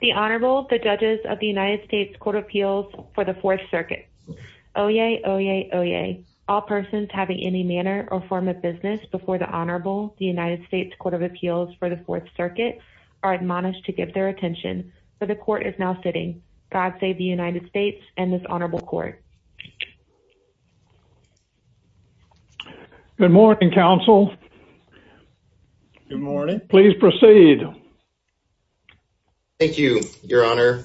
The Honorable, the Judges of the United States Court of Appeals for the Fourth Circuit. Oyez, oyez, oyez. All persons having any manner or form of business before the Honorable, the United States Court of Appeals for the Fourth Circuit, are admonished to give their attention. For the Court is now sitting. God save the United States and this Honorable Saeed. Thank you, Your Honor.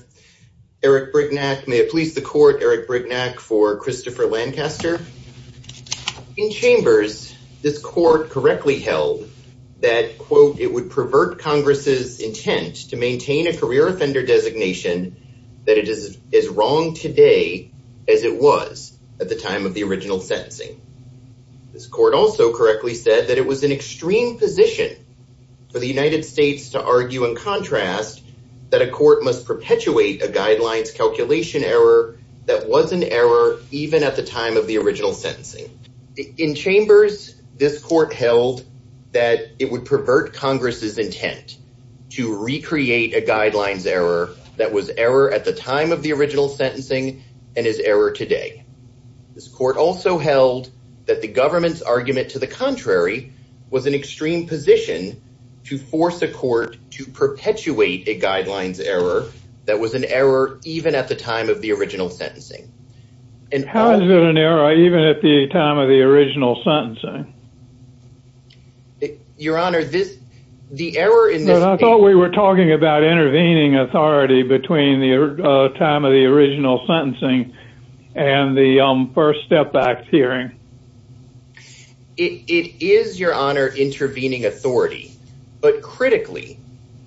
Eric Brignac, may it please the Court, Eric Brignac for Christopher Lancaster. In Chambers, this Court correctly held that, quote, it would pervert Congress' intent to maintain a career offender designation that it is as wrong today as it was at the time of the original sentencing. This Court also correctly said that it was an extreme position for the United States to argue in contrast that a court must perpetuate a guidelines calculation error that was an error even at the time of the original sentencing. In Chambers, this Court held that it would pervert Congress' intent to recreate a guidelines error that was error at the time of the original sentencing and is error today. This Court also held that the government's argument to the contrary was an extreme position to force a court to perpetuate a guidelines error that was an error even at the time of the original sentencing. How is it an error even at the time of the original sentencing? Your Honor, the error in this case... I thought we were talking about intervening authority between the time of the original sentencing and the first step back hearing. It is, Your Honor, intervening authority, but critically,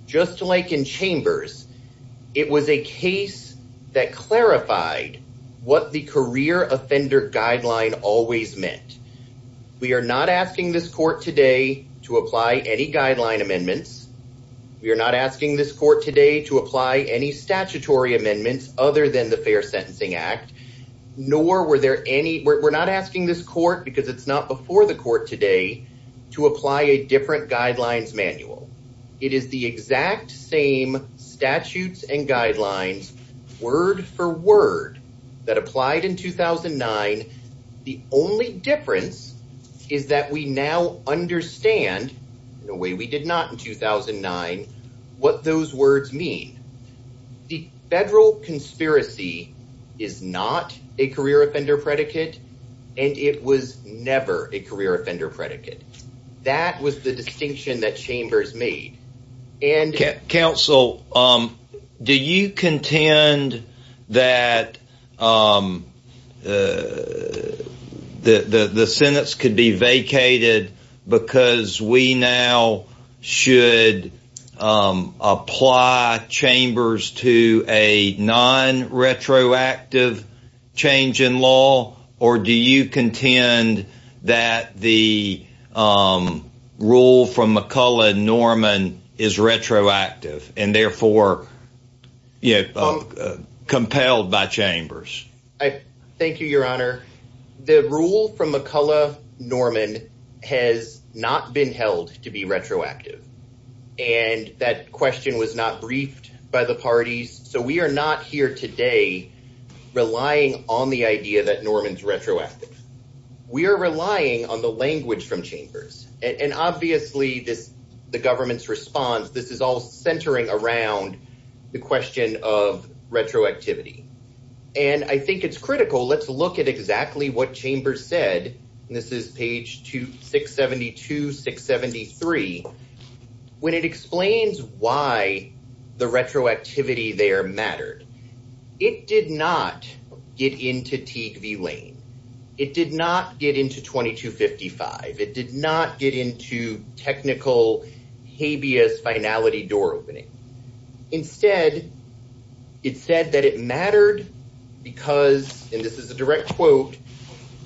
just like in Chambers, it was a case that clarified what the career offender guideline always meant. We are not asking this Court today to apply any guideline amendments. We are not asking this Court today to apply any statutory amendments other than the Fair Sentencing Act, nor were there any... we're not asking this Court, because it's not before the Court today, to apply a different guidelines manual. It is the exact same statutes and guidelines, word for word, that applied in 2009. The only difference is that we now understand, in a way we did not in 2009, what those words mean. The federal conspiracy is not a career offender predicate, and it was never a career offender predicate. That was the distinction that Chambers made. Counsel, do you contend that the sentence could be vacated because we now should apply Chambers to a non-retroactive change in law, or do you contend that the rule from McCullough-Norman is retroactive and therefore compelled by Chambers? Thank you, Your Honor. The rule from McCullough-Norman has not been held to be retroactive, and that question was not briefed by the parties, so we are not here today relying on the idea that Norman's retroactive. We are relying on the language from Chambers, and obviously, the government's response, this is all centering around the question of retroactivity, and I think it's critical. Let's look at exactly what Chambers said, and this is page 672, 673, when it explains why the retroactivity there mattered. It did not get into Teague v. Lane. It did not get into 2255. It did not get into technical habeas finality door opening. Instead, it said that it mattered because, and this is a direct quote,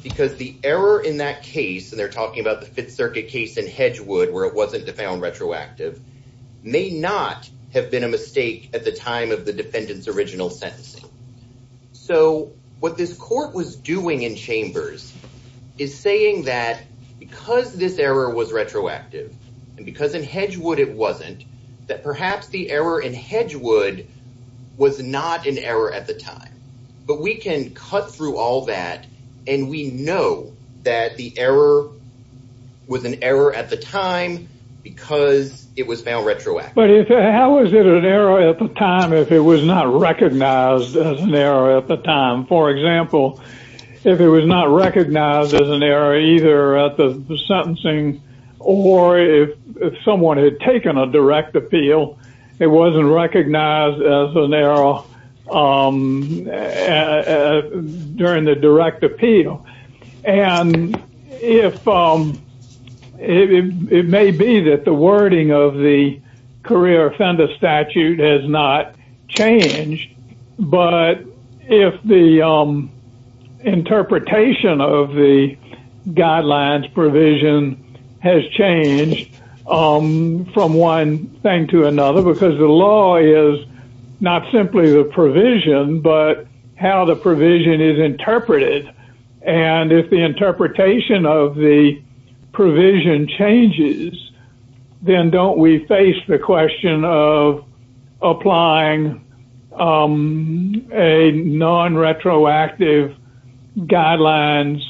because the error in that case, and they're talking about the Fifth Circuit case in Hedgewood where it wasn't defound retroactive, may not have been a mistake at the time of the defendant's sentencing. So what this court was doing in Chambers is saying that because this error was retroactive and because in Hedgewood it wasn't, that perhaps the error in Hedgewood was not an error at the time, but we can cut through all that, and we know that the error was an error at the time. For example, if it was not recognized as an error either at the sentencing or if someone had taken a direct appeal, it wasn't recognized as an error during the direct appeal. And if it may be that the wording of the career offender statute has not changed, but if the interpretation of the guidelines provision has changed from one thing to another, because the law is not simply the provision, but how the provision is interpreted. And if the interpretation of the provision changes, then don't we face the question of applying a non-retroactive guidelines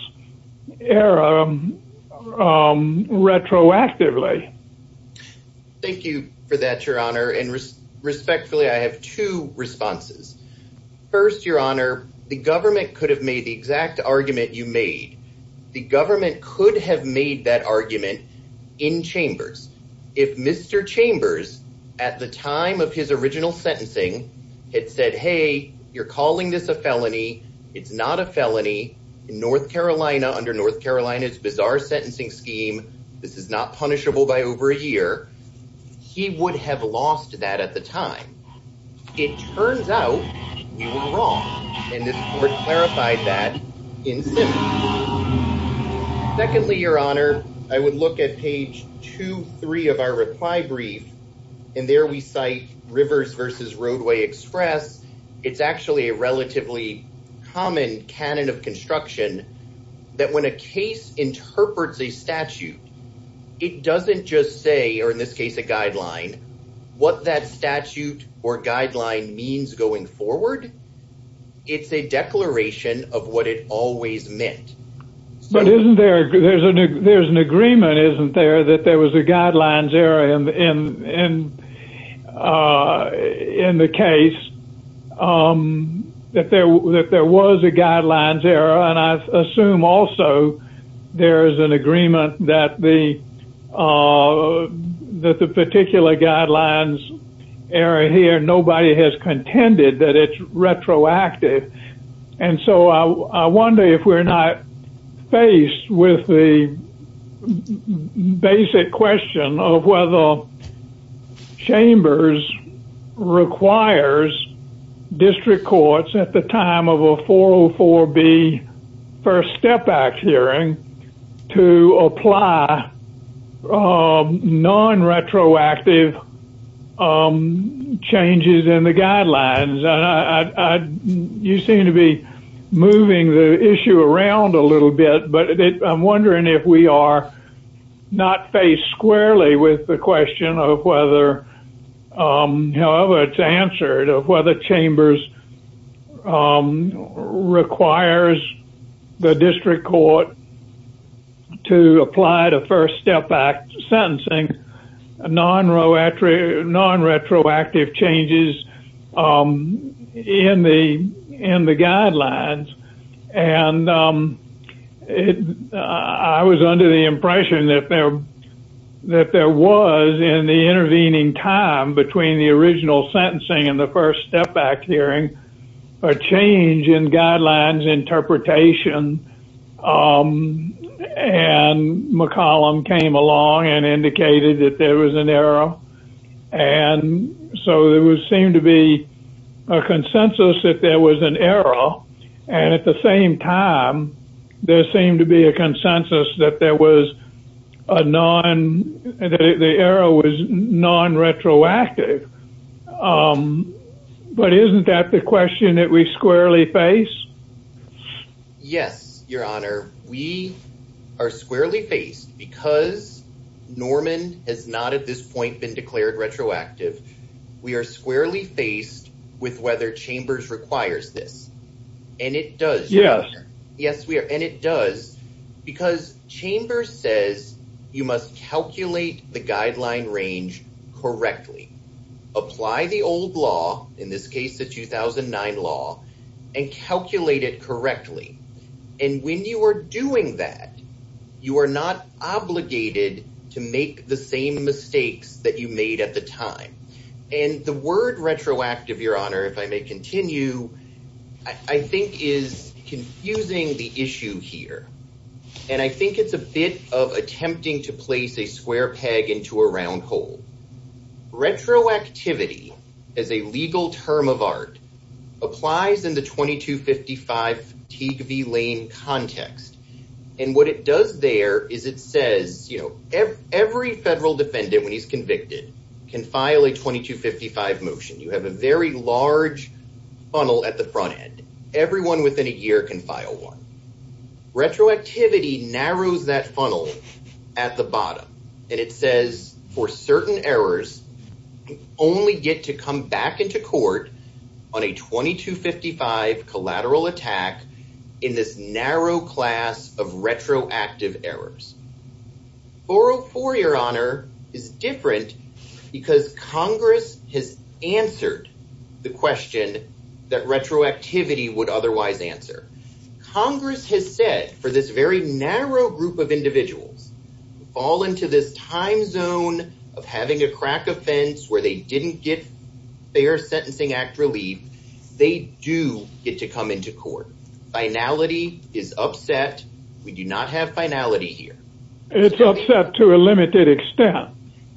error retroactively? Thank you for that, Your Honor. And respectfully, I have two responses. First, Your Honor, the government could have made the exact argument you made. The government could have made that argument in Chambers. If Mr. Chambers, at the time of his original sentencing, had said, hey, you're calling this a felony. It's not a felony in North Carolina under North Carolina's bizarre sentencing scheme. This is not punishable by over a year. He would have lost that at the time. It turns out you were wrong. And this board clarified that in sentence. Secondly, Your Honor, I would look at page two, three of our reply brief. And there we cite Rivers versus Roadway Express. It's actually a relatively common canon of construction that when a case interprets a statute, it doesn't just say, or in this case a guideline, what that statute or guideline means going forward. It's a declaration of what it always meant. But isn't there, there's an agreement, isn't there, that there was a guidelines error in the case, that there was a guidelines error? And I assume also there is an agreement that the particular guidelines error here, nobody has contended that it's retroactive. And so I wonder if we're not faced with the basic question of whether Chambers requires district courts at the time of a 404B First Step Act hearing to apply non-retroactive changes in the guidelines. I, you seem to be moving the issue around a little bit, but I'm wondering if we are not faced squarely with the question of whether, however it's answered, of whether Chambers requires the district court to apply the First Step Act sentencing, non-retroactive changes in the guidelines. And I was under the impression that there was, in the intervening time between the original sentencing and the First Step Act hearing, a change in guidelines interpretation. And McCollum came along and indicated that there was an error. And so there seemed to be a consensus that there was an error. And at the same time, there seemed to be a consensus that there was a non, that the error was non-retroactive. But isn't that the question that we squarely face? Yes, Your Honor. We are squarely faced because Norman has not at this point been declared retroactive. We are squarely faced with whether Chambers requires this. And it does. Yes, we are. And it does because Chambers says you must calculate the guideline range correctly, apply the old law, in this case the 2009 law, and calculate it correctly. And when you are doing that, you are not obligated to make the same mistakes that you made at the time. And the word retroactive, Your Honor, if I may continue, I think is confusing the issue here. And I think it's a bit of attempting to place a square peg into a round hole. Retroactivity as a legal term of art applies in the 2255 Teague v. Lane context. And what it does there is it says, you know, every federal defendant when he's convicted can file a 2255 motion. You have a very large funnel at the front end. Everyone within a year can file one. Retroactivity narrows that funnel at the bottom. And it says for certain errors, only get to come back into court on a 2255 collateral attack in this narrow class of retroactive errors. 404, Your Honor, is different because Congress has answered the question that retroactivity would otherwise answer. Congress has said for this very narrow group of individuals to fall into this time zone of having a crack offense where they didn't get fair sentencing act relief, they do get to come into court. Finality is upset. We do not have finality here. It's upset to a limited extent.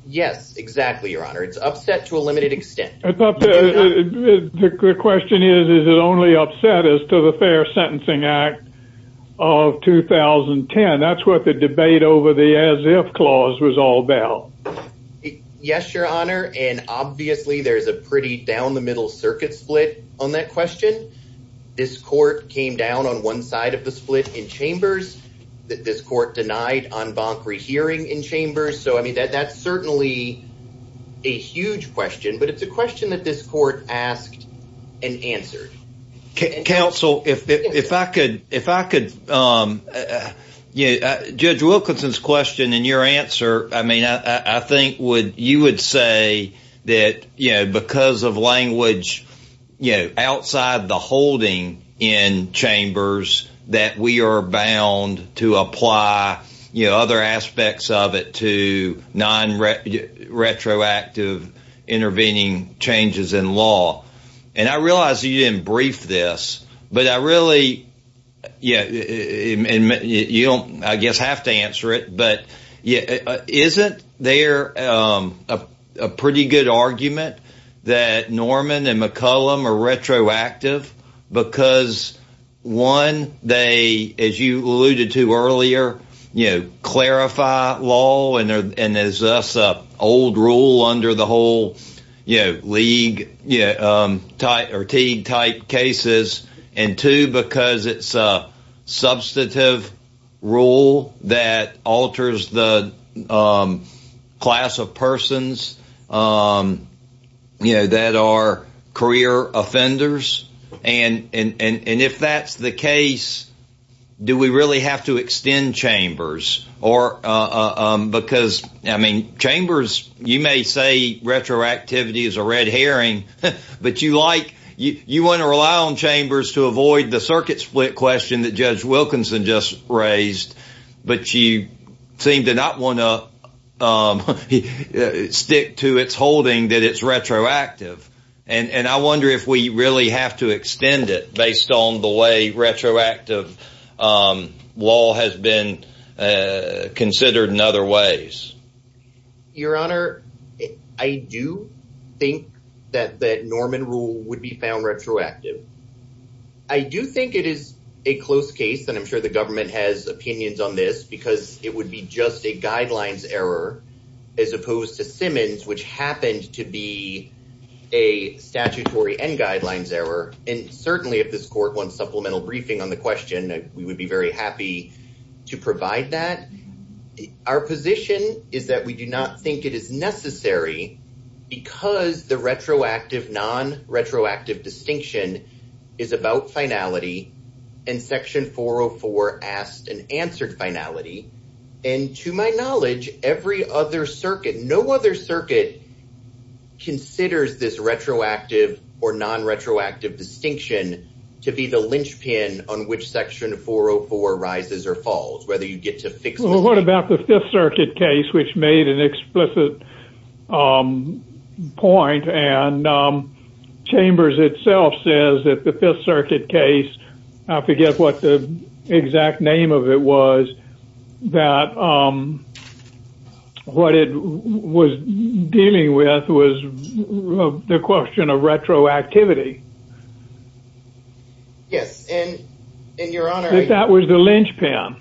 Yes, exactly, Your Honor. It's upset to a limited extent. The question is, is it only upset as to the Fair Sentencing Act of 2010? That's what the debate over the as if clause was all about. Yes, Your Honor. And obviously, there's a pretty down the circuit split on that question. This court came down on one side of the split in chambers. This court denied on bonk rehearing in chambers. So, I mean, that's certainly a huge question. But it's a question that this court asked and answered. Counsel, if I could, if I could. Judge Wilkinson's question and your answer, I mean, I think you would say that, you know, because of language, you know, outside the holding in chambers, that we are bound to apply, you know, other aspects of it to non-retroactive intervening changes in law. And I realize you didn't brief this, but I really, yeah, you don't, I guess, have to answer it. But yeah, isn't there a pretty good argument that Norman and McCollum are retroactive because, one, they, as you alluded to earlier, you know, clarify law and there's this old rule under the whole, you know, league, you know, or teague-type cases, and two, because it's a substantive rule that alters the class of persons, you know, that are career offenders? And if that's the case, do we really have to extend chambers? Or because, I mean, chambers, you may say retroactivity is a you want to rely on chambers to avoid the circuit split question that Judge Wilkinson just raised, but you seem to not want to stick to its holding that it's retroactive. And I wonder if we really have to extend it based on the way retroactive law has been considered in other ways. Your Honor, I do think that that Norman rule would be found retroactive. I do think it is a close case, and I'm sure the government has opinions on this, because it would be just a guidelines error as opposed to Simmons, which happened to be a statutory and guidelines error. And certainly, if this court wants supplemental briefing on the that we do not think it is necessary, because the retroactive, non-retroactive distinction is about finality, and Section 404 asked and answered finality. And to my knowledge, every other circuit, no other circuit considers this retroactive or non-retroactive distinction to be the linchpin on which Section 404 rises or falls, whether you get to fix it. What about the Fifth Circuit case, which made an explicit point, and Chambers itself says that the Fifth Circuit case, I forget what the exact name of it was, that what it was dealing with was the question of retroactivity. Yes, and Your Honor, that was the linchpin.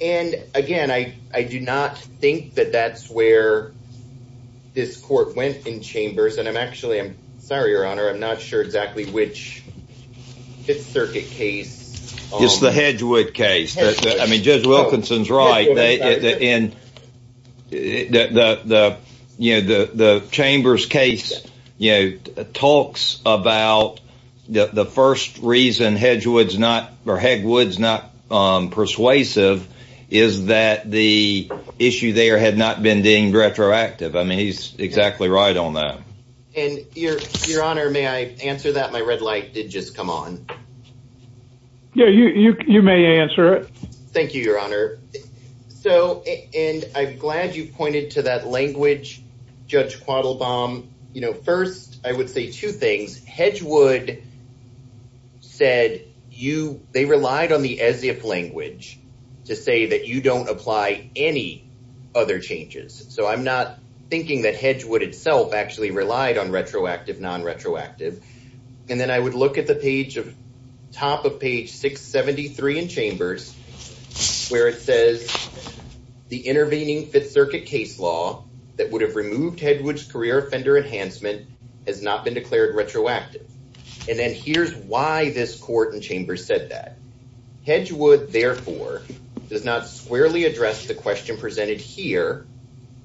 And again, I do not think that that's where this court went in Chambers, and I'm actually, I'm sorry, Your Honor, I'm not sure exactly which Fifth Circuit case. It's the Hedgewood case. I mean, Judge Wilkinson's right. And the Chambers case talks about the first reason Hedgewood's not persuasive is that the issue there had not been deemed retroactive. I mean, he's exactly right on that. And Your Honor, may I answer that? My red light did just come on. Yeah, you may answer it. Thank you, Your Honor. So, and I'm glad you pointed to that language, Judge Quattlebaum. You know, first, I would say two things. Hedgewood said they relied on the as-if language to say that you don't apply any other changes. So I'm not thinking that Hedgewood itself actually relied on retroactive, non-retroactive. And then I would look at the page, top of page 673 in Chambers, where it says the intervening Fifth Circuit case law that would have removed Hedgewood's career offender enhancement has not been declared retroactive. And then here's why this court in Chambers said that. Hedgewood, therefore, does not squarely address the question presented here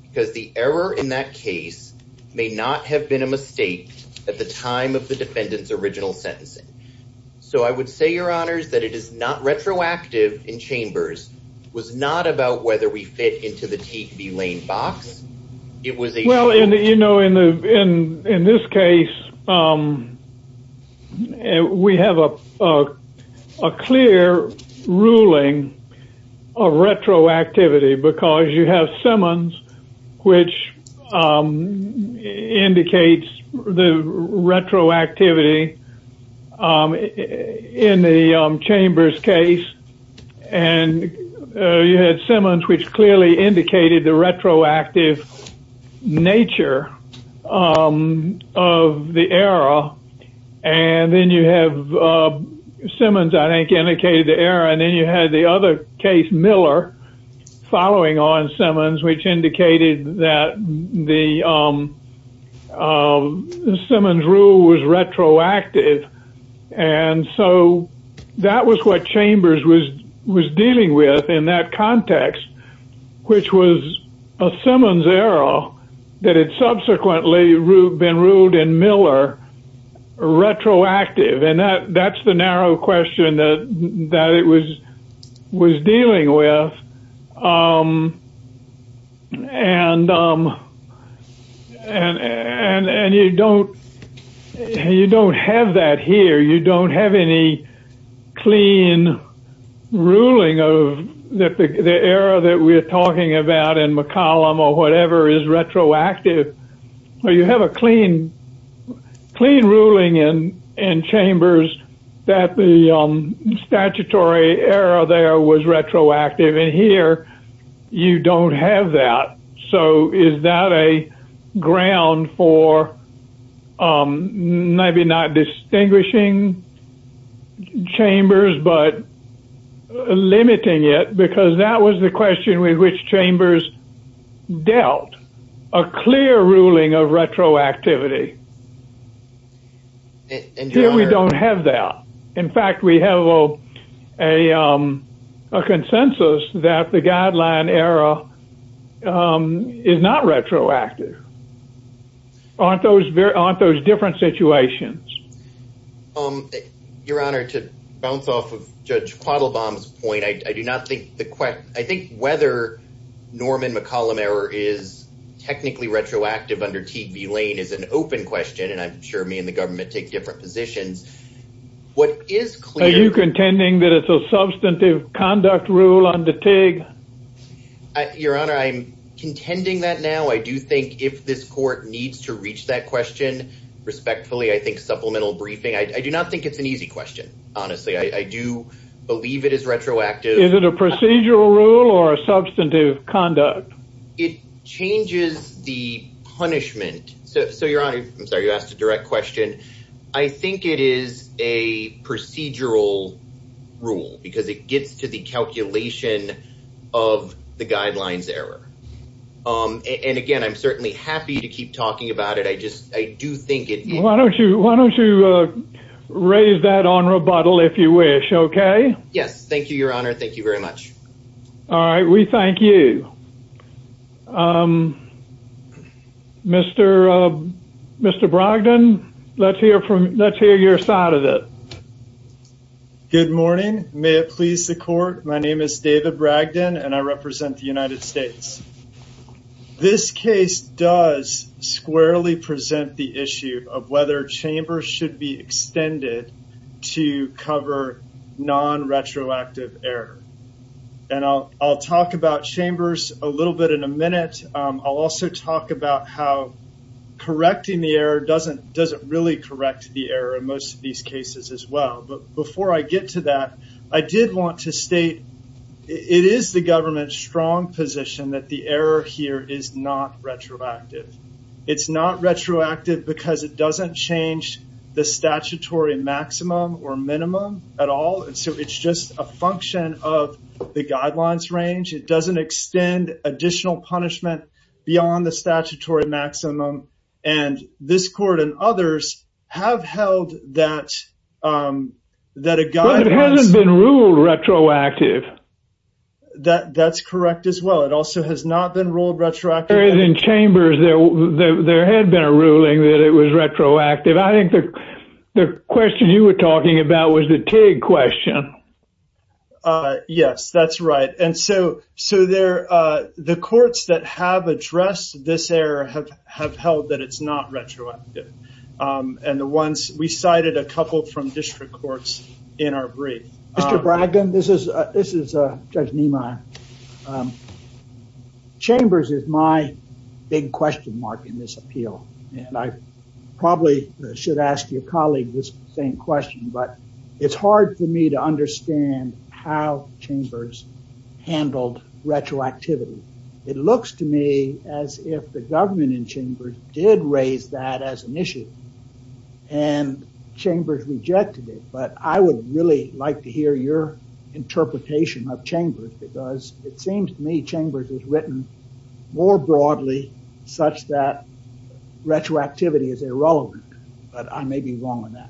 because the error in that case may not have been a mistake at the time of retroactive in Chambers. It was not about whether we fit into the T.B. Lane box. Well, you know, in this case, we have a clear ruling of retroactivity because you have Simmons which indicates the retroactivity in the Chambers case. And you had Simmons which clearly indicated the retroactive nature of the error. And then you have Simmons, I think, indicated the error. And you had the other case, Miller, following on Simmons, which indicated that the Simmons rule was retroactive. And so that was what Chambers was dealing with in that context, which was a Simmons error that had subsequently been ruled in Miller retroactive. And that's the narrow question that it was dealing with. And you don't have that here. You don't have any clean ruling of the error that we're talking about in McCollum or whatever is retroactive. You have a clean ruling in Chambers that the statutory error there was retroactive. And here, you don't have that. So is that a ground for maybe not distinguishing Chambers but limiting it because that was the question with which Chambers dealt a clear ruling of retroactivity. And here we don't have that. In fact, we have a consensus that the guideline error is not retroactive. Aren't those very aren't those different situations? Um, Your Honor, to bounce off of Judge Quattlebaum's point, I do not think the question I think whether Norman McCollum error is technically retroactive under TV lane is an open question. And I'm sure me and the government take different positions. What is clear you contending that it's a substantive conduct rule on the tag? Your Honor, I'm contending that now I do think if this I do not think it's an easy question. Honestly, I do believe it is retroactive. Is it a procedural rule or a substantive conduct? It changes the punishment. So Your Honor, I'm sorry, you asked a direct question. I think it is a procedural rule because it gets to the calculation of the guidelines error. And again, I'm certainly happy to keep talking about it. I just I do think Why don't you why don't you raise that on rebuttal if you wish? Okay. Yes. Thank you, Your Honor. Thank you very much. All right. We thank you. Um, Mr. Mr. Brogdon. Let's hear from let's hear your side of it. Good morning. May it please the court. My name is David Bragdon and I represent the United States. This case does squarely present the issue of whether chambers should be extended to cover non retroactive error. And I'll I'll talk about chambers a little bit in a minute. I'll also talk about how correcting the error doesn't doesn't really correct the error in most of these cases as well. But before I get to that, I did want to state it is the government's strong position that the error here is not retroactive. It's not retroactive because it doesn't change the statutory maximum or minimum at all. And so it's just a function of the guidelines range. It doesn't extend additional punishment beyond the statutory maximum. And this court and others have held that that it hasn't been ruled retroactive. That that's correct as well. It also has not been ruled retroactive in chambers there. There had been a ruling that it was retroactive. I think the question you were talking about was the TIG question. Yes, that's right. And so so there, the courts that have addressed this error have have held that it's not retroactive. And the ones we cited a couple from district courts in our brief. Mr. Braggin, this is this is Judge Nima. Chambers is my big question mark in this appeal. And I probably should ask your colleague this same question. But it's hard for me to understand how chambers handled retroactivity. It looks to me as if the government in chambers did raise that as an issue and chambers rejected it. But I would really like to hear your interpretation of chambers because it seems to me chambers is written more broadly such that retroactivity is irrelevant. But I may be wrong on that.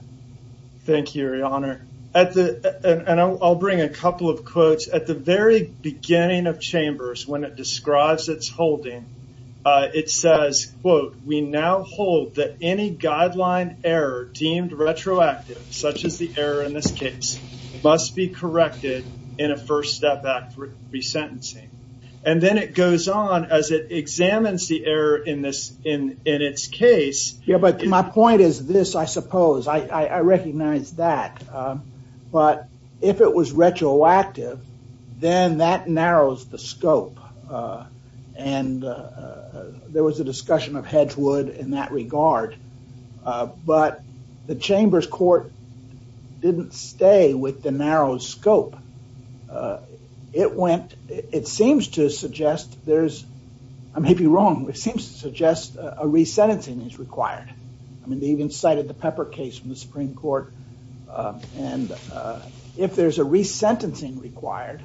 Thank you, Your Honor. And I'll bring a couple of quotes at the very beginning of chambers when it describes its holding. It says, quote, We now hold that any guideline error deemed retroactive, such as the error in this case, must be corrected in a first step at resentencing. And then it goes on as it examines the error in this in in its case. Yeah, but my point is this, I suppose I recognize that. But if it was retroactive, then that narrows the scope. And there was a discussion of Hedgewood in that regard. But the chambers court didn't stay with the narrow scope. It went it seems to suggest there's I may be wrong. It seems to suggest a cited the pepper case in the Supreme Court. And if there's a resentencing required,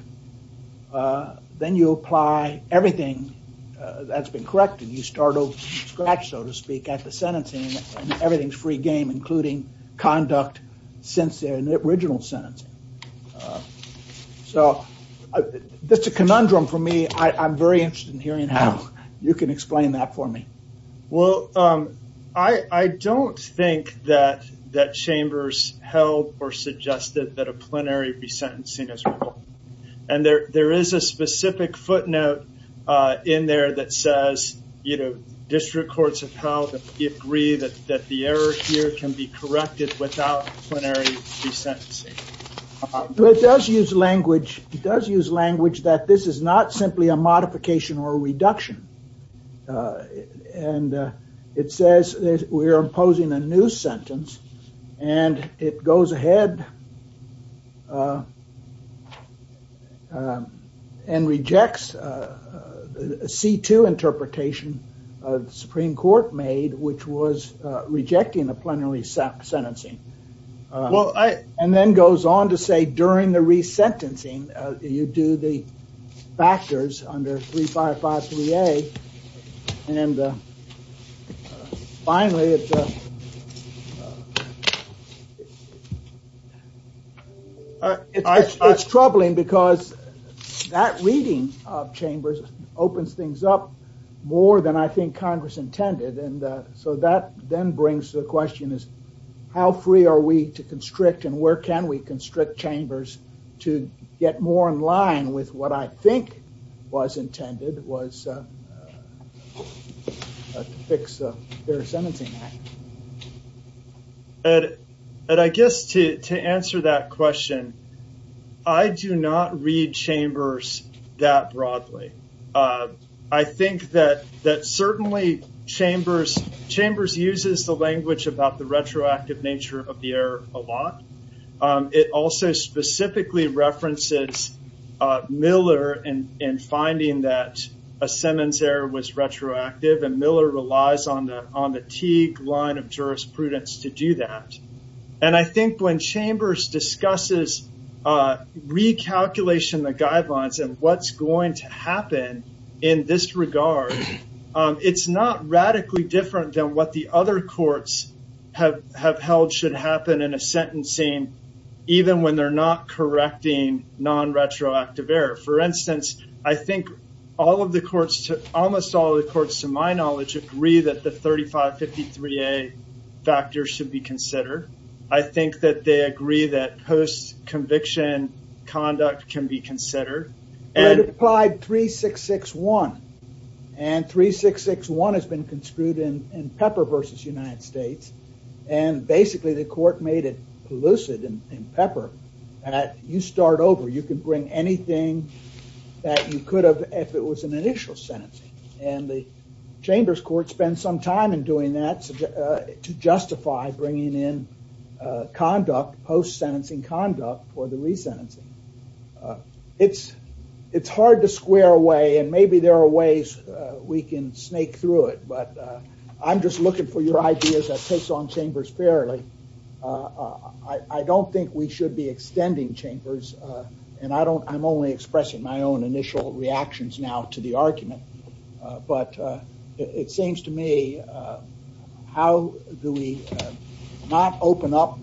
then you apply everything that's been corrected. You start over from scratch, so to speak, at the sentencing and everything's free game, including conduct since the original sentence. So that's a conundrum for me. I'm very interested in hearing how you can explain that for me. Well, I don't think that that chambers held or suggested that a plenary be sentencing as well. And there there is a specific footnote in there that says, you know, district courts of how you agree that that the error here can be corrected without plenary resentencing. But it does use language. It does use language that this is not simply a modification or a and it says we're imposing a new sentence and it goes ahead and rejects a C2 interpretation of the Supreme Court made, which was rejecting the plenary sentencing. Well, I and then goes on to say during the resentencing, you do the factors under 3553A and finally, it's troubling because that reading of chambers opens things up more than I think Congress intended. And so that then brings the question is how free are we to constrict and where can we constrict chambers to get more in line with what I think was intended was a fix of their sentencing act? And I guess to answer that question, I do not read chambers that broadly. I think that that certainly chambers chambers uses the language about the retroactive nature of the air a lot. It also specifically references Miller and in finding that a Simmons error was retroactive and Miller relies on the on the T line of jurisprudence to do that. And I think when chambers discusses recalculation, the guidelines and what's going to happen in this regard, it's not radically different than what the other courts have have held should happen in a sentencing even when they're not correcting non retroactive error. For instance, I think all of the courts to almost all the courts to my knowledge agree that the 3553A factors should be considered. I think that they agree that post conviction conduct can be considered and applied 3661 and 3661 has been construed in Pepper versus United States and basically the court made it lucid in Pepper that you start over you can bring anything that you could have if it was an initial sentencing and the chambers court spend some time in doing that to justify bringing in conduct post sentencing conduct for the resentencing. It's hard to square away and maybe there are ways we can snake through it, but I'm just looking for your ideas that takes on chambers fairly. I don't think we should be extending chambers and I'm only expressing my own initial reactions now to the argument, but it seems to me how do we not open up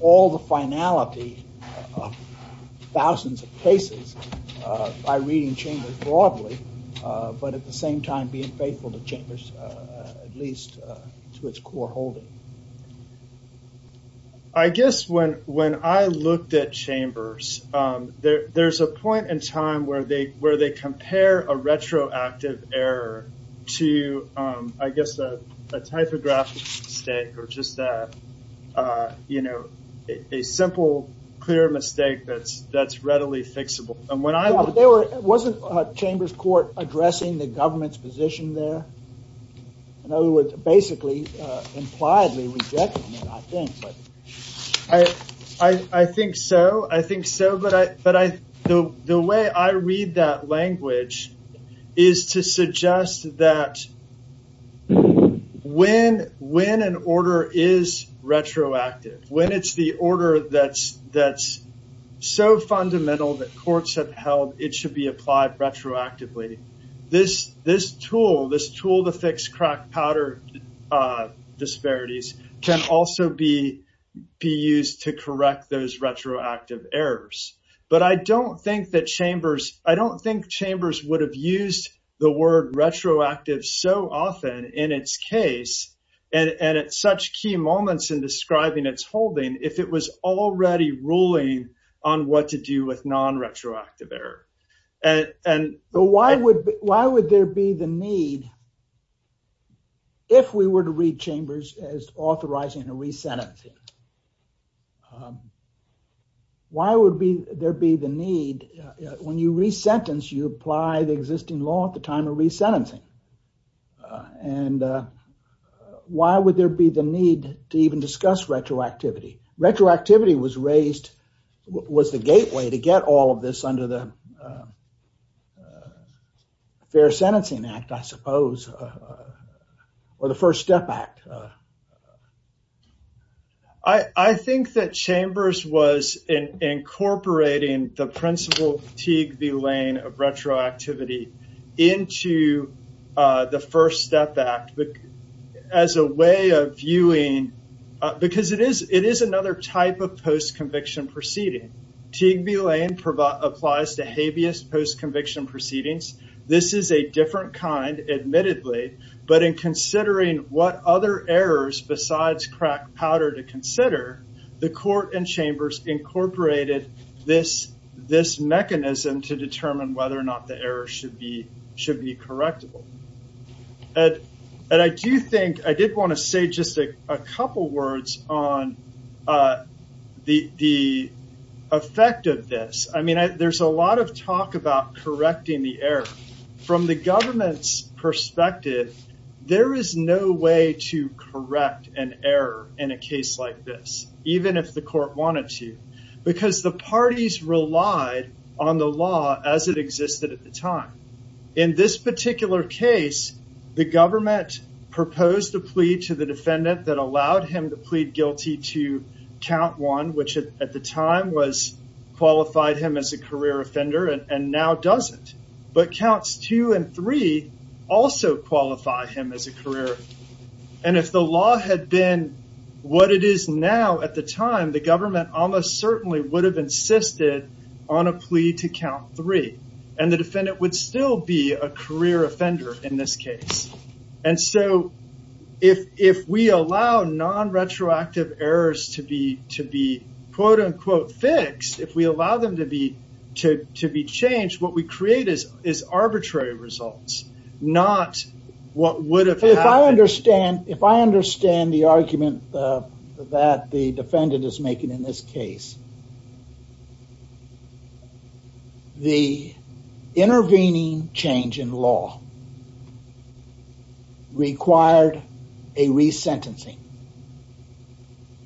all the finality of thousands of cases by reading chambers broadly, but at the same time being faithful to chambers at least to its core holding. I guess when I looked at chambers, there's a point in time where they compare a retroactive error to a typographical mistake or just a simple clear mistake that's readily fixable. Wasn't chambers court addressing the government's position there? In other words, is to suggest that when an order is retroactive, when it's the order that's so fundamental that courts have held, it should be applied retroactively. This tool, this tool to fix crack powder disparities can also be used to correct those retroactive errors, but I don't think that chambers, I don't think chambers would have used the word retroactive so often in its case and at such key moments in describing its holding if it was already ruling on what to do with non-retroactive error. Why would there be the need if we were to read chambers as when you re-sentence, you apply the existing law at the time of re-sentencing and why would there be the need to even discuss retroactivity? Retroactivity was raised, was the gateway to get all of this under the Fair Sentencing Act, I suppose, or the First Step Act. I think that chambers was incorporating the principle Teague B. Lane of retroactivity into the First Step Act as a way of viewing, because it is another type of post-conviction proceeding. Teague B. Lane applies to habeas post-conviction proceedings. This is a different kind, admittedly, but in considering what other errors besides crack powder to consider, the court and chambers incorporated this mechanism to determine whether or not the error should be correctable. I did want to say just a couple words on the effect of this. There's a lot of perspective. There is no way to correct an error in a case like this, even if the court wanted to, because the parties relied on the law as it existed at the time. In this particular case, the government proposed a plea to the defendant that allowed him to plead guilty to count one, which at the time qualified him as a career offender and now doesn't, but counts two and three also qualify him as a career offender. If the law had been what it is now at the time, the government almost certainly would have insisted on a plea to count three, and the defendant would still be a career offender in this case. If we allow non-retroactive errors to be fixed, if we allow them to be changed, what we create is arbitrary results, not what would have happened. If I understand the argument that the defendant is making in this case, the intervening change in law required a resentencing,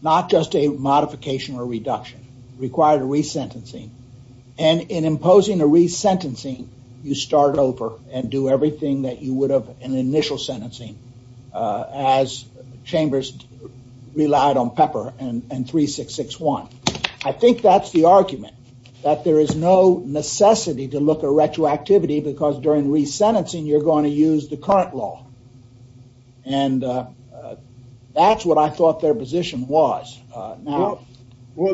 not just a modification or reduction, required a resentencing, and in imposing a resentencing, you start over and do everything that you would have in initial sentencing as chambers relied on Pepper and 3661. I think that's the argument, that there is no necessity to look at retroactivity because during resentencing, you're going to use the current law. That's what I thought their position was. Well,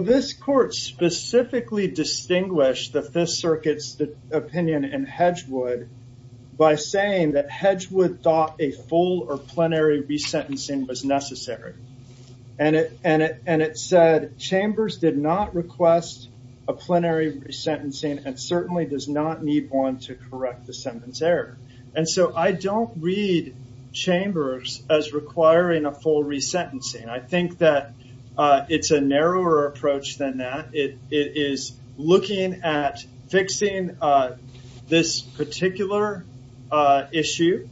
this court specifically distinguished the Fifth Circuit's opinion in Hedgewood by saying that Hedgewood thought a full or plenary resentencing was necessary. It said chambers did not request a plenary resentencing and certainly does not need one to correct the sentence error. I don't read chambers as requiring a full resentencing. I think that it's a narrower approach than that. It is looking at fixing this particular issue,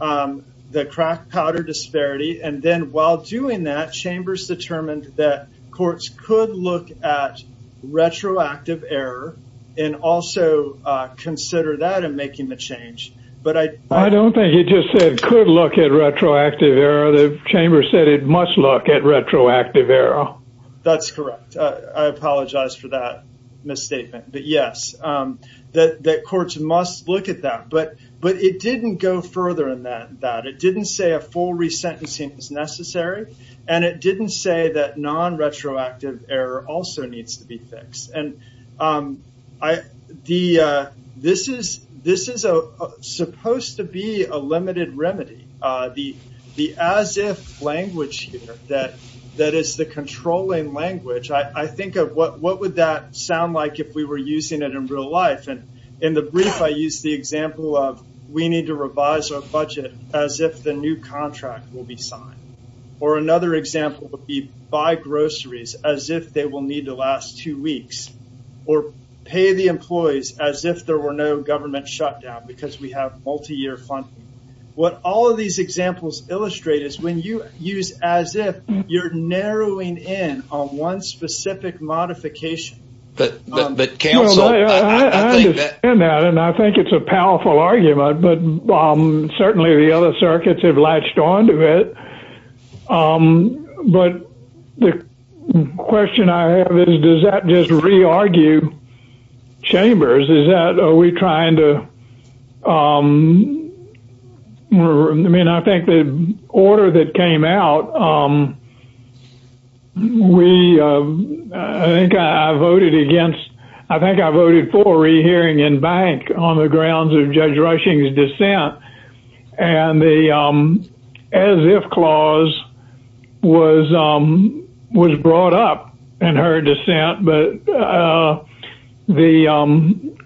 the crack powder disparity, and then while doing that, chambers determined that courts could look at retroactive error and also consider that in making the change. I don't think you just said could look at retroactive error. The chamber said it must look at retroactive error. That's correct. I apologize for that misstatement. Yes, courts must look at that, but it didn't go further than that. It didn't say a full resentencing was necessary, and it didn't say that non-retroactive error also needs to be fixed. This is supposed to be a limited remedy, the as-if language here that is the controlling language. I think of what would that sound like if we were using it in real life. In the brief, I use the example of we need to revise our budget as if the new contract will be signed, or another example would be buy groceries as if they will need to last two weeks, or pay the employees as if there were no government shutdown because we have multi-year funding. What all of these examples illustrate is when you use as if, you're narrowing in on one specific modification. I understand that, and I think it's a powerful argument, but certainly the other circuits have latched onto it. The question I have is, does that just re-argue chambers? I think the order that came out, I think I voted for rehearing in bank on the grounds of the,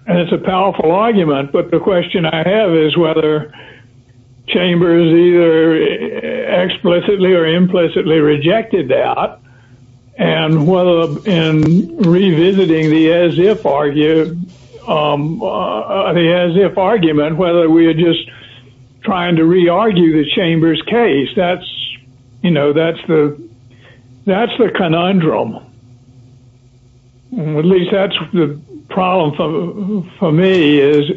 and it's a powerful argument, but the question I have is whether chambers either explicitly or implicitly rejected that, and whether in revisiting the as-if argument, whether we are just trying to re-argue the chamber's case. That's the conundrum. At least that's the problem for me, is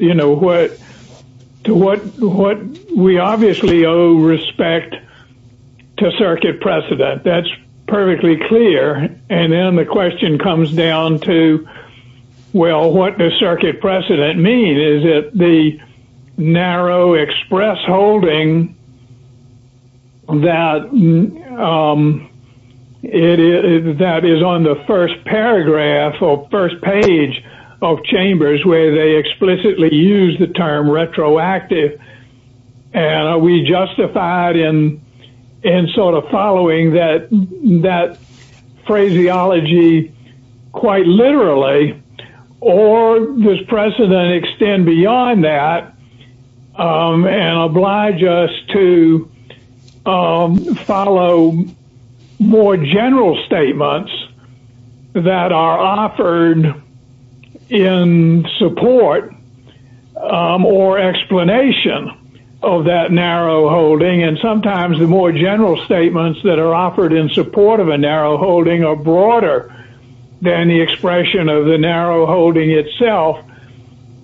what we obviously owe respect to circuit precedent. That's perfectly clear, and then the question comes down to, well, what does circuit precedent mean? Is it the narrow express holding that is on the first paragraph or first page of chambers where they explicitly use the term retroactive, and are we justified in following that phraseology quite literally, or does precedent extend beyond that and oblige us to follow more general statements that are offered in support or explanation of that narrow holding, and sometimes the more general statements that are offered in support of a narrow holding are broader than the expression of the narrow holding itself,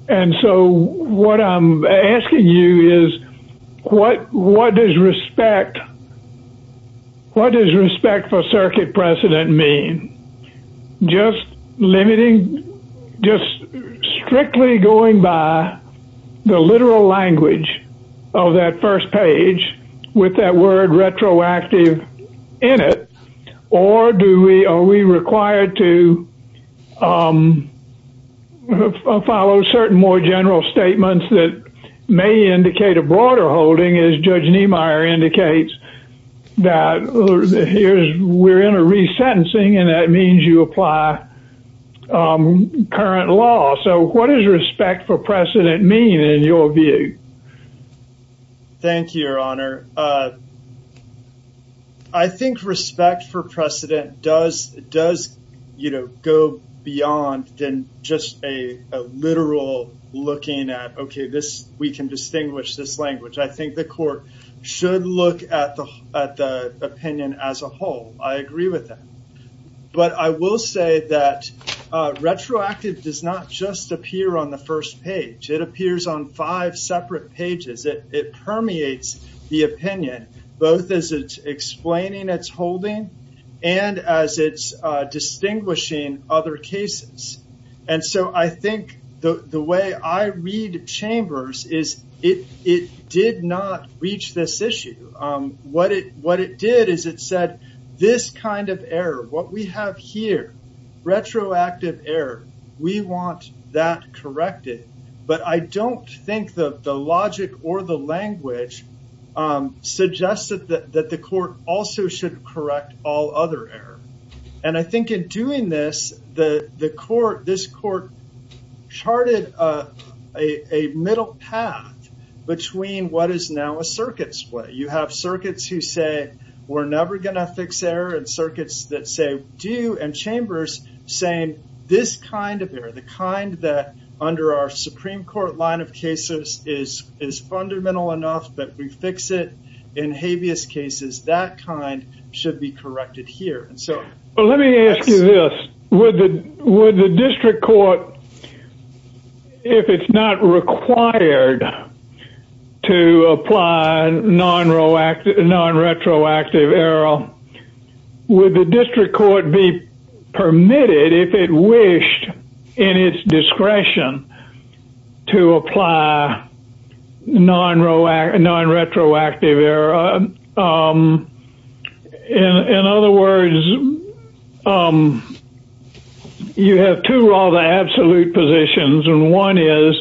and so what I'm asking you is what does respect for circuit precedent mean? Just strictly going by the literal language of that first page with that word retroactive in it, or are we required to follow certain more general statements that may indicate a broader holding, as Judge Niemeyer indicates, that we're in a resentencing, and that means you apply current law, so what does respect for precedent mean in your view? Thank you, Your Honor. I think respect for precedent does go beyond just a literal looking at, okay, we can distinguish this language. I think the court should look at the opinion as a whole. I agree with that, but I will say that retroactive does not just appear on the first page. It appears on five separate pages. It permeates the opinion, both as it's explaining its holding and as it's distinguishing other cases, and so I think the way I read Chambers is it did not reach this issue. What it did is it said, this kind of error, what we have here, retroactive error, we want that corrected, but I don't think that the logic or the language suggested that the court also should correct all other error, and I think in doing this, this court charted a middle path between what is now a circuit split. You have circuits who say, we're never going to fix error, and circuits that say, do, and Chambers saying, this kind of error, the kind that under our Supreme Court line of cases is fundamental enough, but we fix it in habeas cases, that kind should be corrected here. Let me ask you this. Would the district court, if it's not required to apply non-retroactive error, would the district court be required to apply non-retroactive error? In other words, you have two rather absolute positions, and one is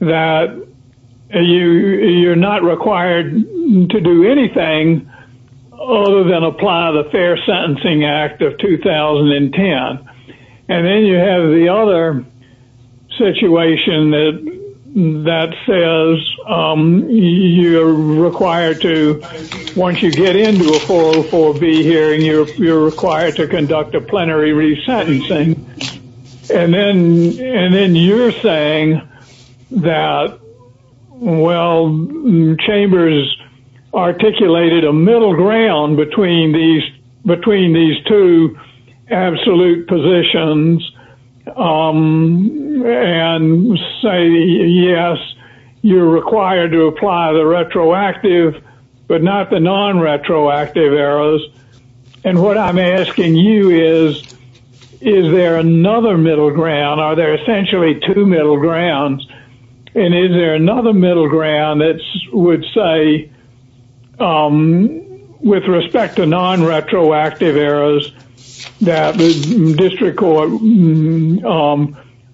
that you're not required to do anything other than apply the Fair Sentencing Act of 2010, and then you have the other situation that says you're required to, once you get into a 404B hearing, you're required to conduct a plenary re-sentencing, and then you're saying that, well, Chambers articulated a middle ground between these two absolute positions, and say, yes, you're required to apply the retroactive, but not the non-retroactive errors, and what I'm asking you is, is there another middle ground? Are there essentially two middle grounds, and is there another middle ground that would say, with respect to non-retroactive errors, that the district court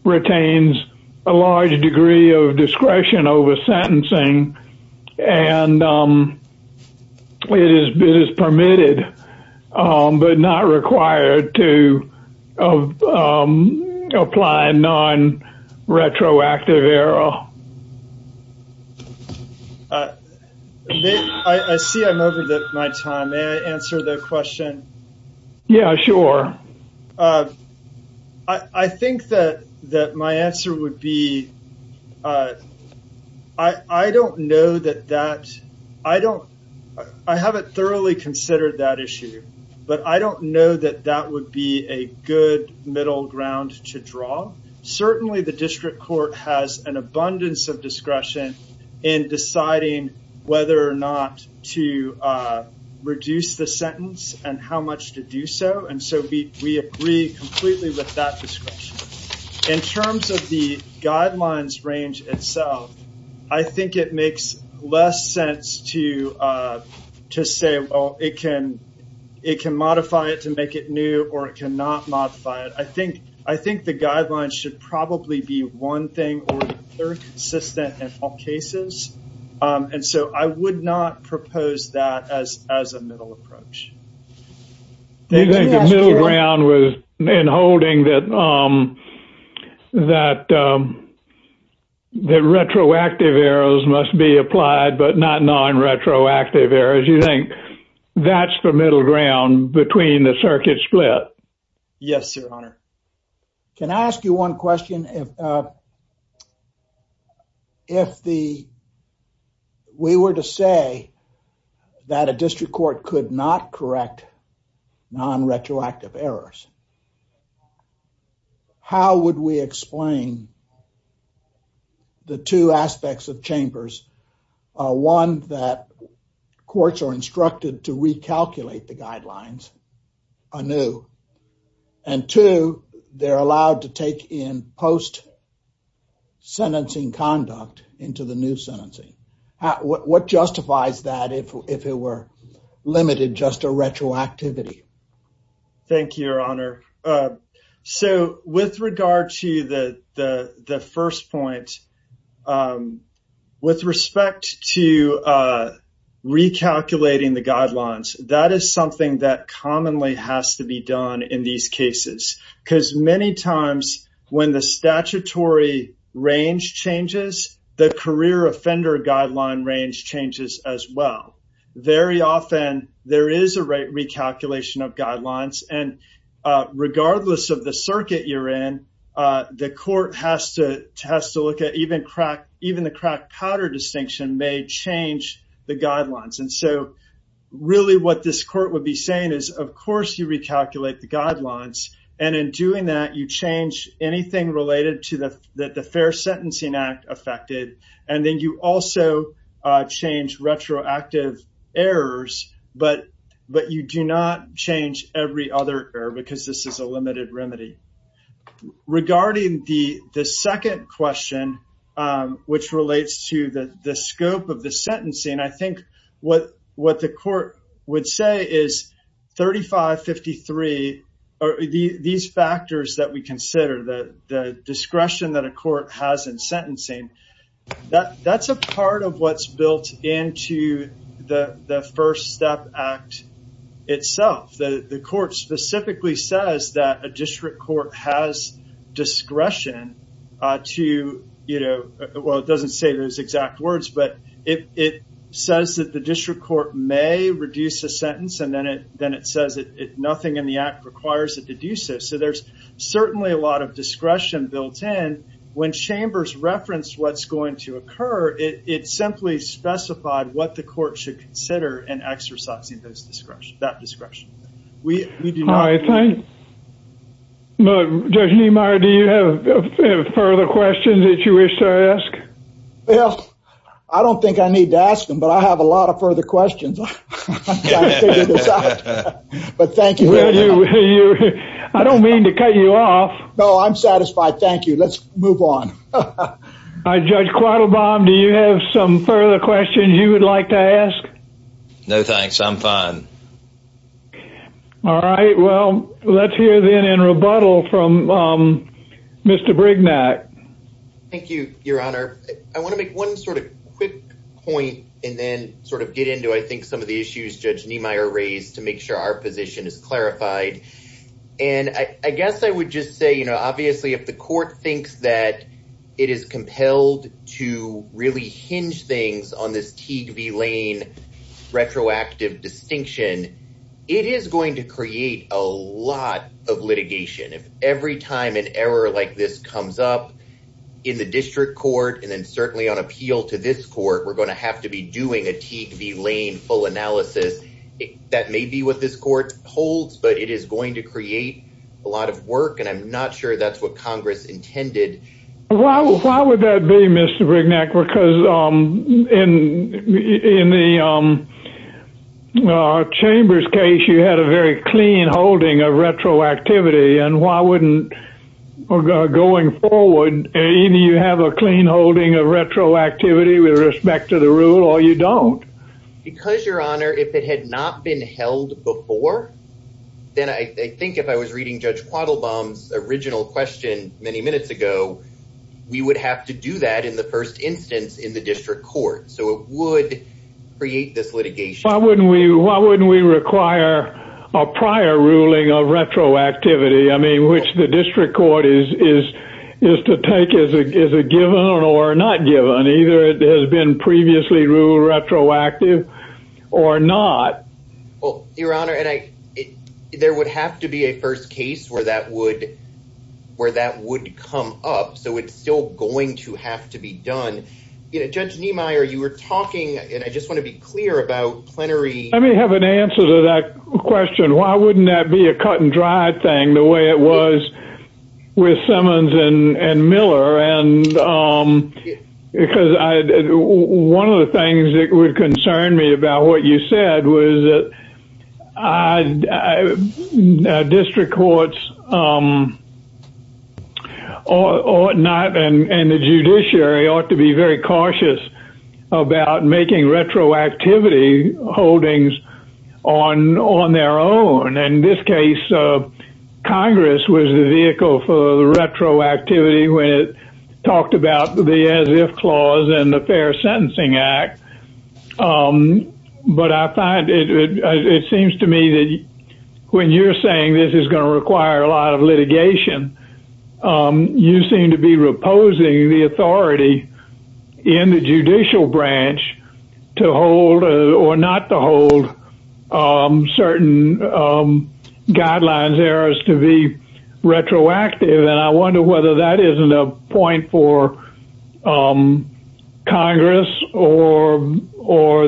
retains a large degree of discretion over sentencing, and that it is permitted, but not required to apply non-retroactive error? I see I'm over my time. May I answer the question? Yeah, sure. I think that my answer would be, I don't know that that, I don't, I haven't thoroughly considered that issue, but I don't know that that would be a good middle ground to draw. Certainly, the district court has an abundance of discretion in deciding whether or not to reduce the sentence, and how much to do so, and so we agree completely with that discretion. In terms of the guidelines range itself, I think it makes less sense to say, well, it can modify it to make it new, or it cannot modify it. I think the guidelines should probably be one thing, or consistent in all cases, and so I would not propose that as a middle approach. Do you think the middle ground was in holding that retroactive errors must be applied, but not non-retroactive errors? You think that's the middle ground between the circuit split? Yes, your honor. Can I ask you one question? If we were to say that a district court could not correct non-retroactive errors, how would we explain the two aspects of chambers? One, that courts are instructed to recalculate the guidelines anew, and two, they're allowed to take in post-sentencing conduct into the new sentencing. What justifies that if it were limited just to retroactivity? Thank you, your honor. With regard to the first point, with respect to recalculating the guidelines, that is something that commonly has to be done in these cases, because many times when the statutory range changes, the career offender guideline range changes as well. Very often, there is a recalculation of guidelines, and regardless of the circuit you're in, the court has to look at even the crack-powder distinction may change the guidelines, and so really what this court would be saying is, of course you recalculate the guidelines, and in doing that, you change anything related to the fair sentencing act affected, and then you also change retroactive errors, but you do not change every other error, because this is a limited remedy. Regarding the second question, which relates to the scope of the sentencing, I think what the court would say is 35-53, these factors that we consider, the discretion that a court has in sentencing, that's a part of what's built into the first step act itself. The court specifically says that a district court has discretion to, you know, well it doesn't say those exact words, but it says that the district court may reduce a sentence, and then it says that nothing in the act requires it to do so, so there's certainly a lot of discretion built in. When Chambers referenced what's going to occur, it simply specified what the court should consider in exercising that discretion. Judge Niemeyer, do you have further questions that you wish to ask? Well, I don't think I need to ask them, but I have a lot of further questions. I don't mean to cut you off. No, I'm satisfied. Thank you. Let's move on. Judge Quattlebaum, do you have some further questions you would like to ask? No, thanks. I'm fine. All right. Well, let's hear then in rebuttal from Mr. Brignac. Thank you, Your Honor. I want to make one sort of quick point and then sort of get into, I think, some of the issues Judge Niemeyer raised to make sure our position is clarified. And I guess I would just say, you know, obviously if the court thinks that it is compelled to really hinge things on this Teague v. Lane retroactive distinction, it is going to create a lot of litigation. If every time an error like this comes up in the district court, and then certainly on Teague v. Lane full analysis, that may be what this court holds, but it is going to create a lot of work. And I'm not sure that's what Congress intended. Why would that be, Mr. Brignac? Because in the Chambers case, you had a very clean holding of retroactivity. And why wouldn't, going forward, either you have a clean holding of retroactivity with respect to the rule or you don't? Because, Your Honor, if it had not been held before, then I think if I was reading Judge Quattlebaum's original question many minutes ago, we would have to do that in the first instance in the district court. So it would create this litigation. Why wouldn't we require a prior ruling of retroactivity? I mean, which the district court is to take as a given or not given. Either it has been previously ruled retroactive or not. Well, Your Honor, there would have to be a first case where that would come up. So it's still going to have to be done. Judge Niemeyer, you were talking, and I just want to be clear about plenary. Let me have an answer to that question. Why wouldn't that be a cut and dry thing the way it was with Simmons and Miller? Because one of the things that would concern me about what you said was that district courts and the judiciary ought to be very cautious about making retroactivity holdings on their own. In this case, Congress was the vehicle for the retroactivity when it talked about the as-if clause and the Fair Sentencing Act. But I find it seems to me that when you're saying this is going to require a lot of litigation, you seem to be reposing the hold certain guidelines, errors, to be retroactive. And I wonder whether that isn't a point for Congress or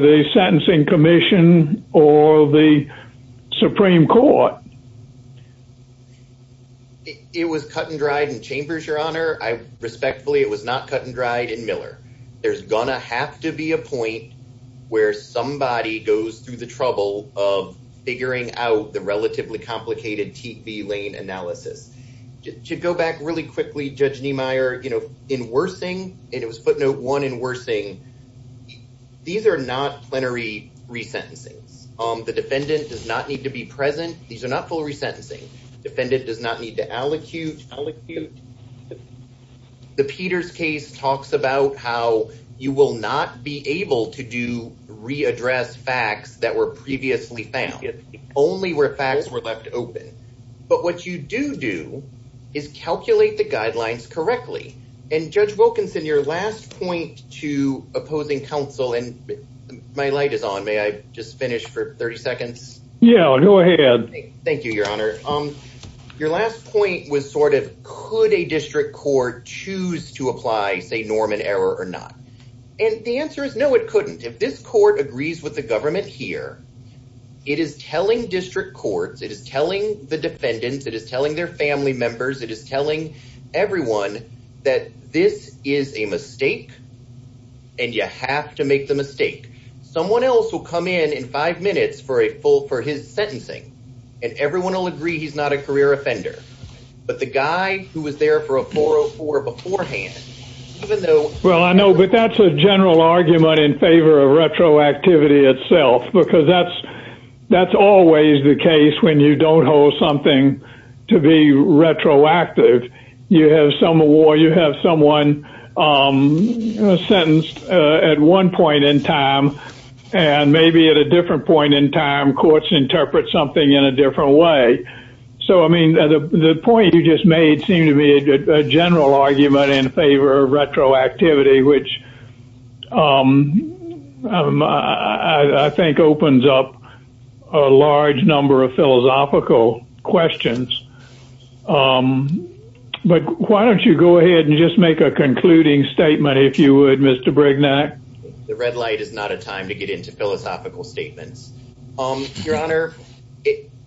the Sentencing Commission or the Supreme Court. It was cut and dried in Chambers, Your Honor. Respectfully, it was not cut and dried in Chambers. It was cut and dried in Chambers. It was cut and dried in Chambers. To go back really quickly, Judge Niemeyer, in Wersing, and it was footnote one in Wersing, these are not plenary resentencings. The defendant does not need to be present. These are not full resentencing. Defendant does not need to allocute. The Peters case talks about how you will not be able to re-address facts that were previously found, only where facts were left open. But what you do do is calculate the guidelines correctly. And Judge Wilkinson, your last point to opposing counsel, and my light is on, may I just finish for 30 seconds? Yeah, go ahead. Thank you, Your Honor. Your last point was sort of could a district court choose to apply, say, norm and error or not? And the answer is no, it couldn't. If this court agrees with the government here, it is telling district courts, it is telling the defendants, it is telling their family members, it is telling everyone that this is a mistake and you have to make the mistake. Someone else will come in in five minutes for a full, for his sentencing and everyone will agree he's not a career offender. But the guy who was there for a 404 beforehand, even though... Well, I know, but that's a general argument in favor of retroactivity itself, because that's always the case when you don't hold something to be retroactive. You have someone on a sentence at one point in time, and maybe at a different point in time, courts interpret something in a different way. So, I mean, the point you just made seemed to be a general argument in favor of retroactivity, which I think opens up a large number of philosophical questions. But why don't you go ahead and just make a concluding statement, if you would, Mr. Brignac? The red light is not a time to get into philosophical statements. Your Honor,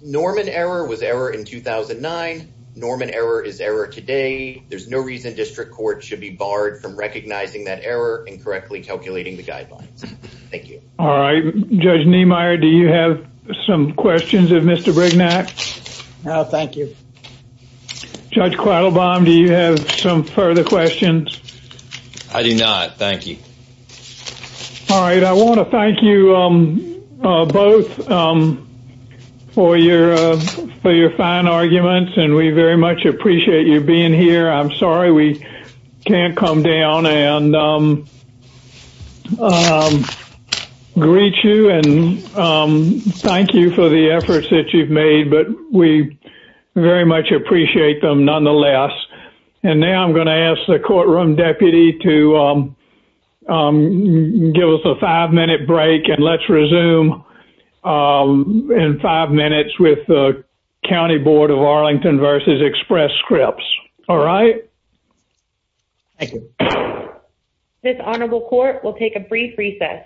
Norman error was error in 2009. Norman error is error today. There's no reason district courts should be barred from recognizing that error and correctly calculating the guidelines. Thank you. All right. Judge Niemeyer, do you have some questions of Mr. Brignac? No, thank you. Judge Quattlebaum, do you have some further questions? I do not. Thank you. All right. I want to thank you both for your fine arguments, and we very much appreciate you being here. I'm sorry we can't come down and greet you. And thank you for the efforts that you've made, but we very much appreciate them nonetheless. And now I'm going to ask the courtroom deputy to give us a five minute break and let's resume in five minutes with the county board of Arlington versus express scripts. All right. Thank you. This honorable court will take a brief recess.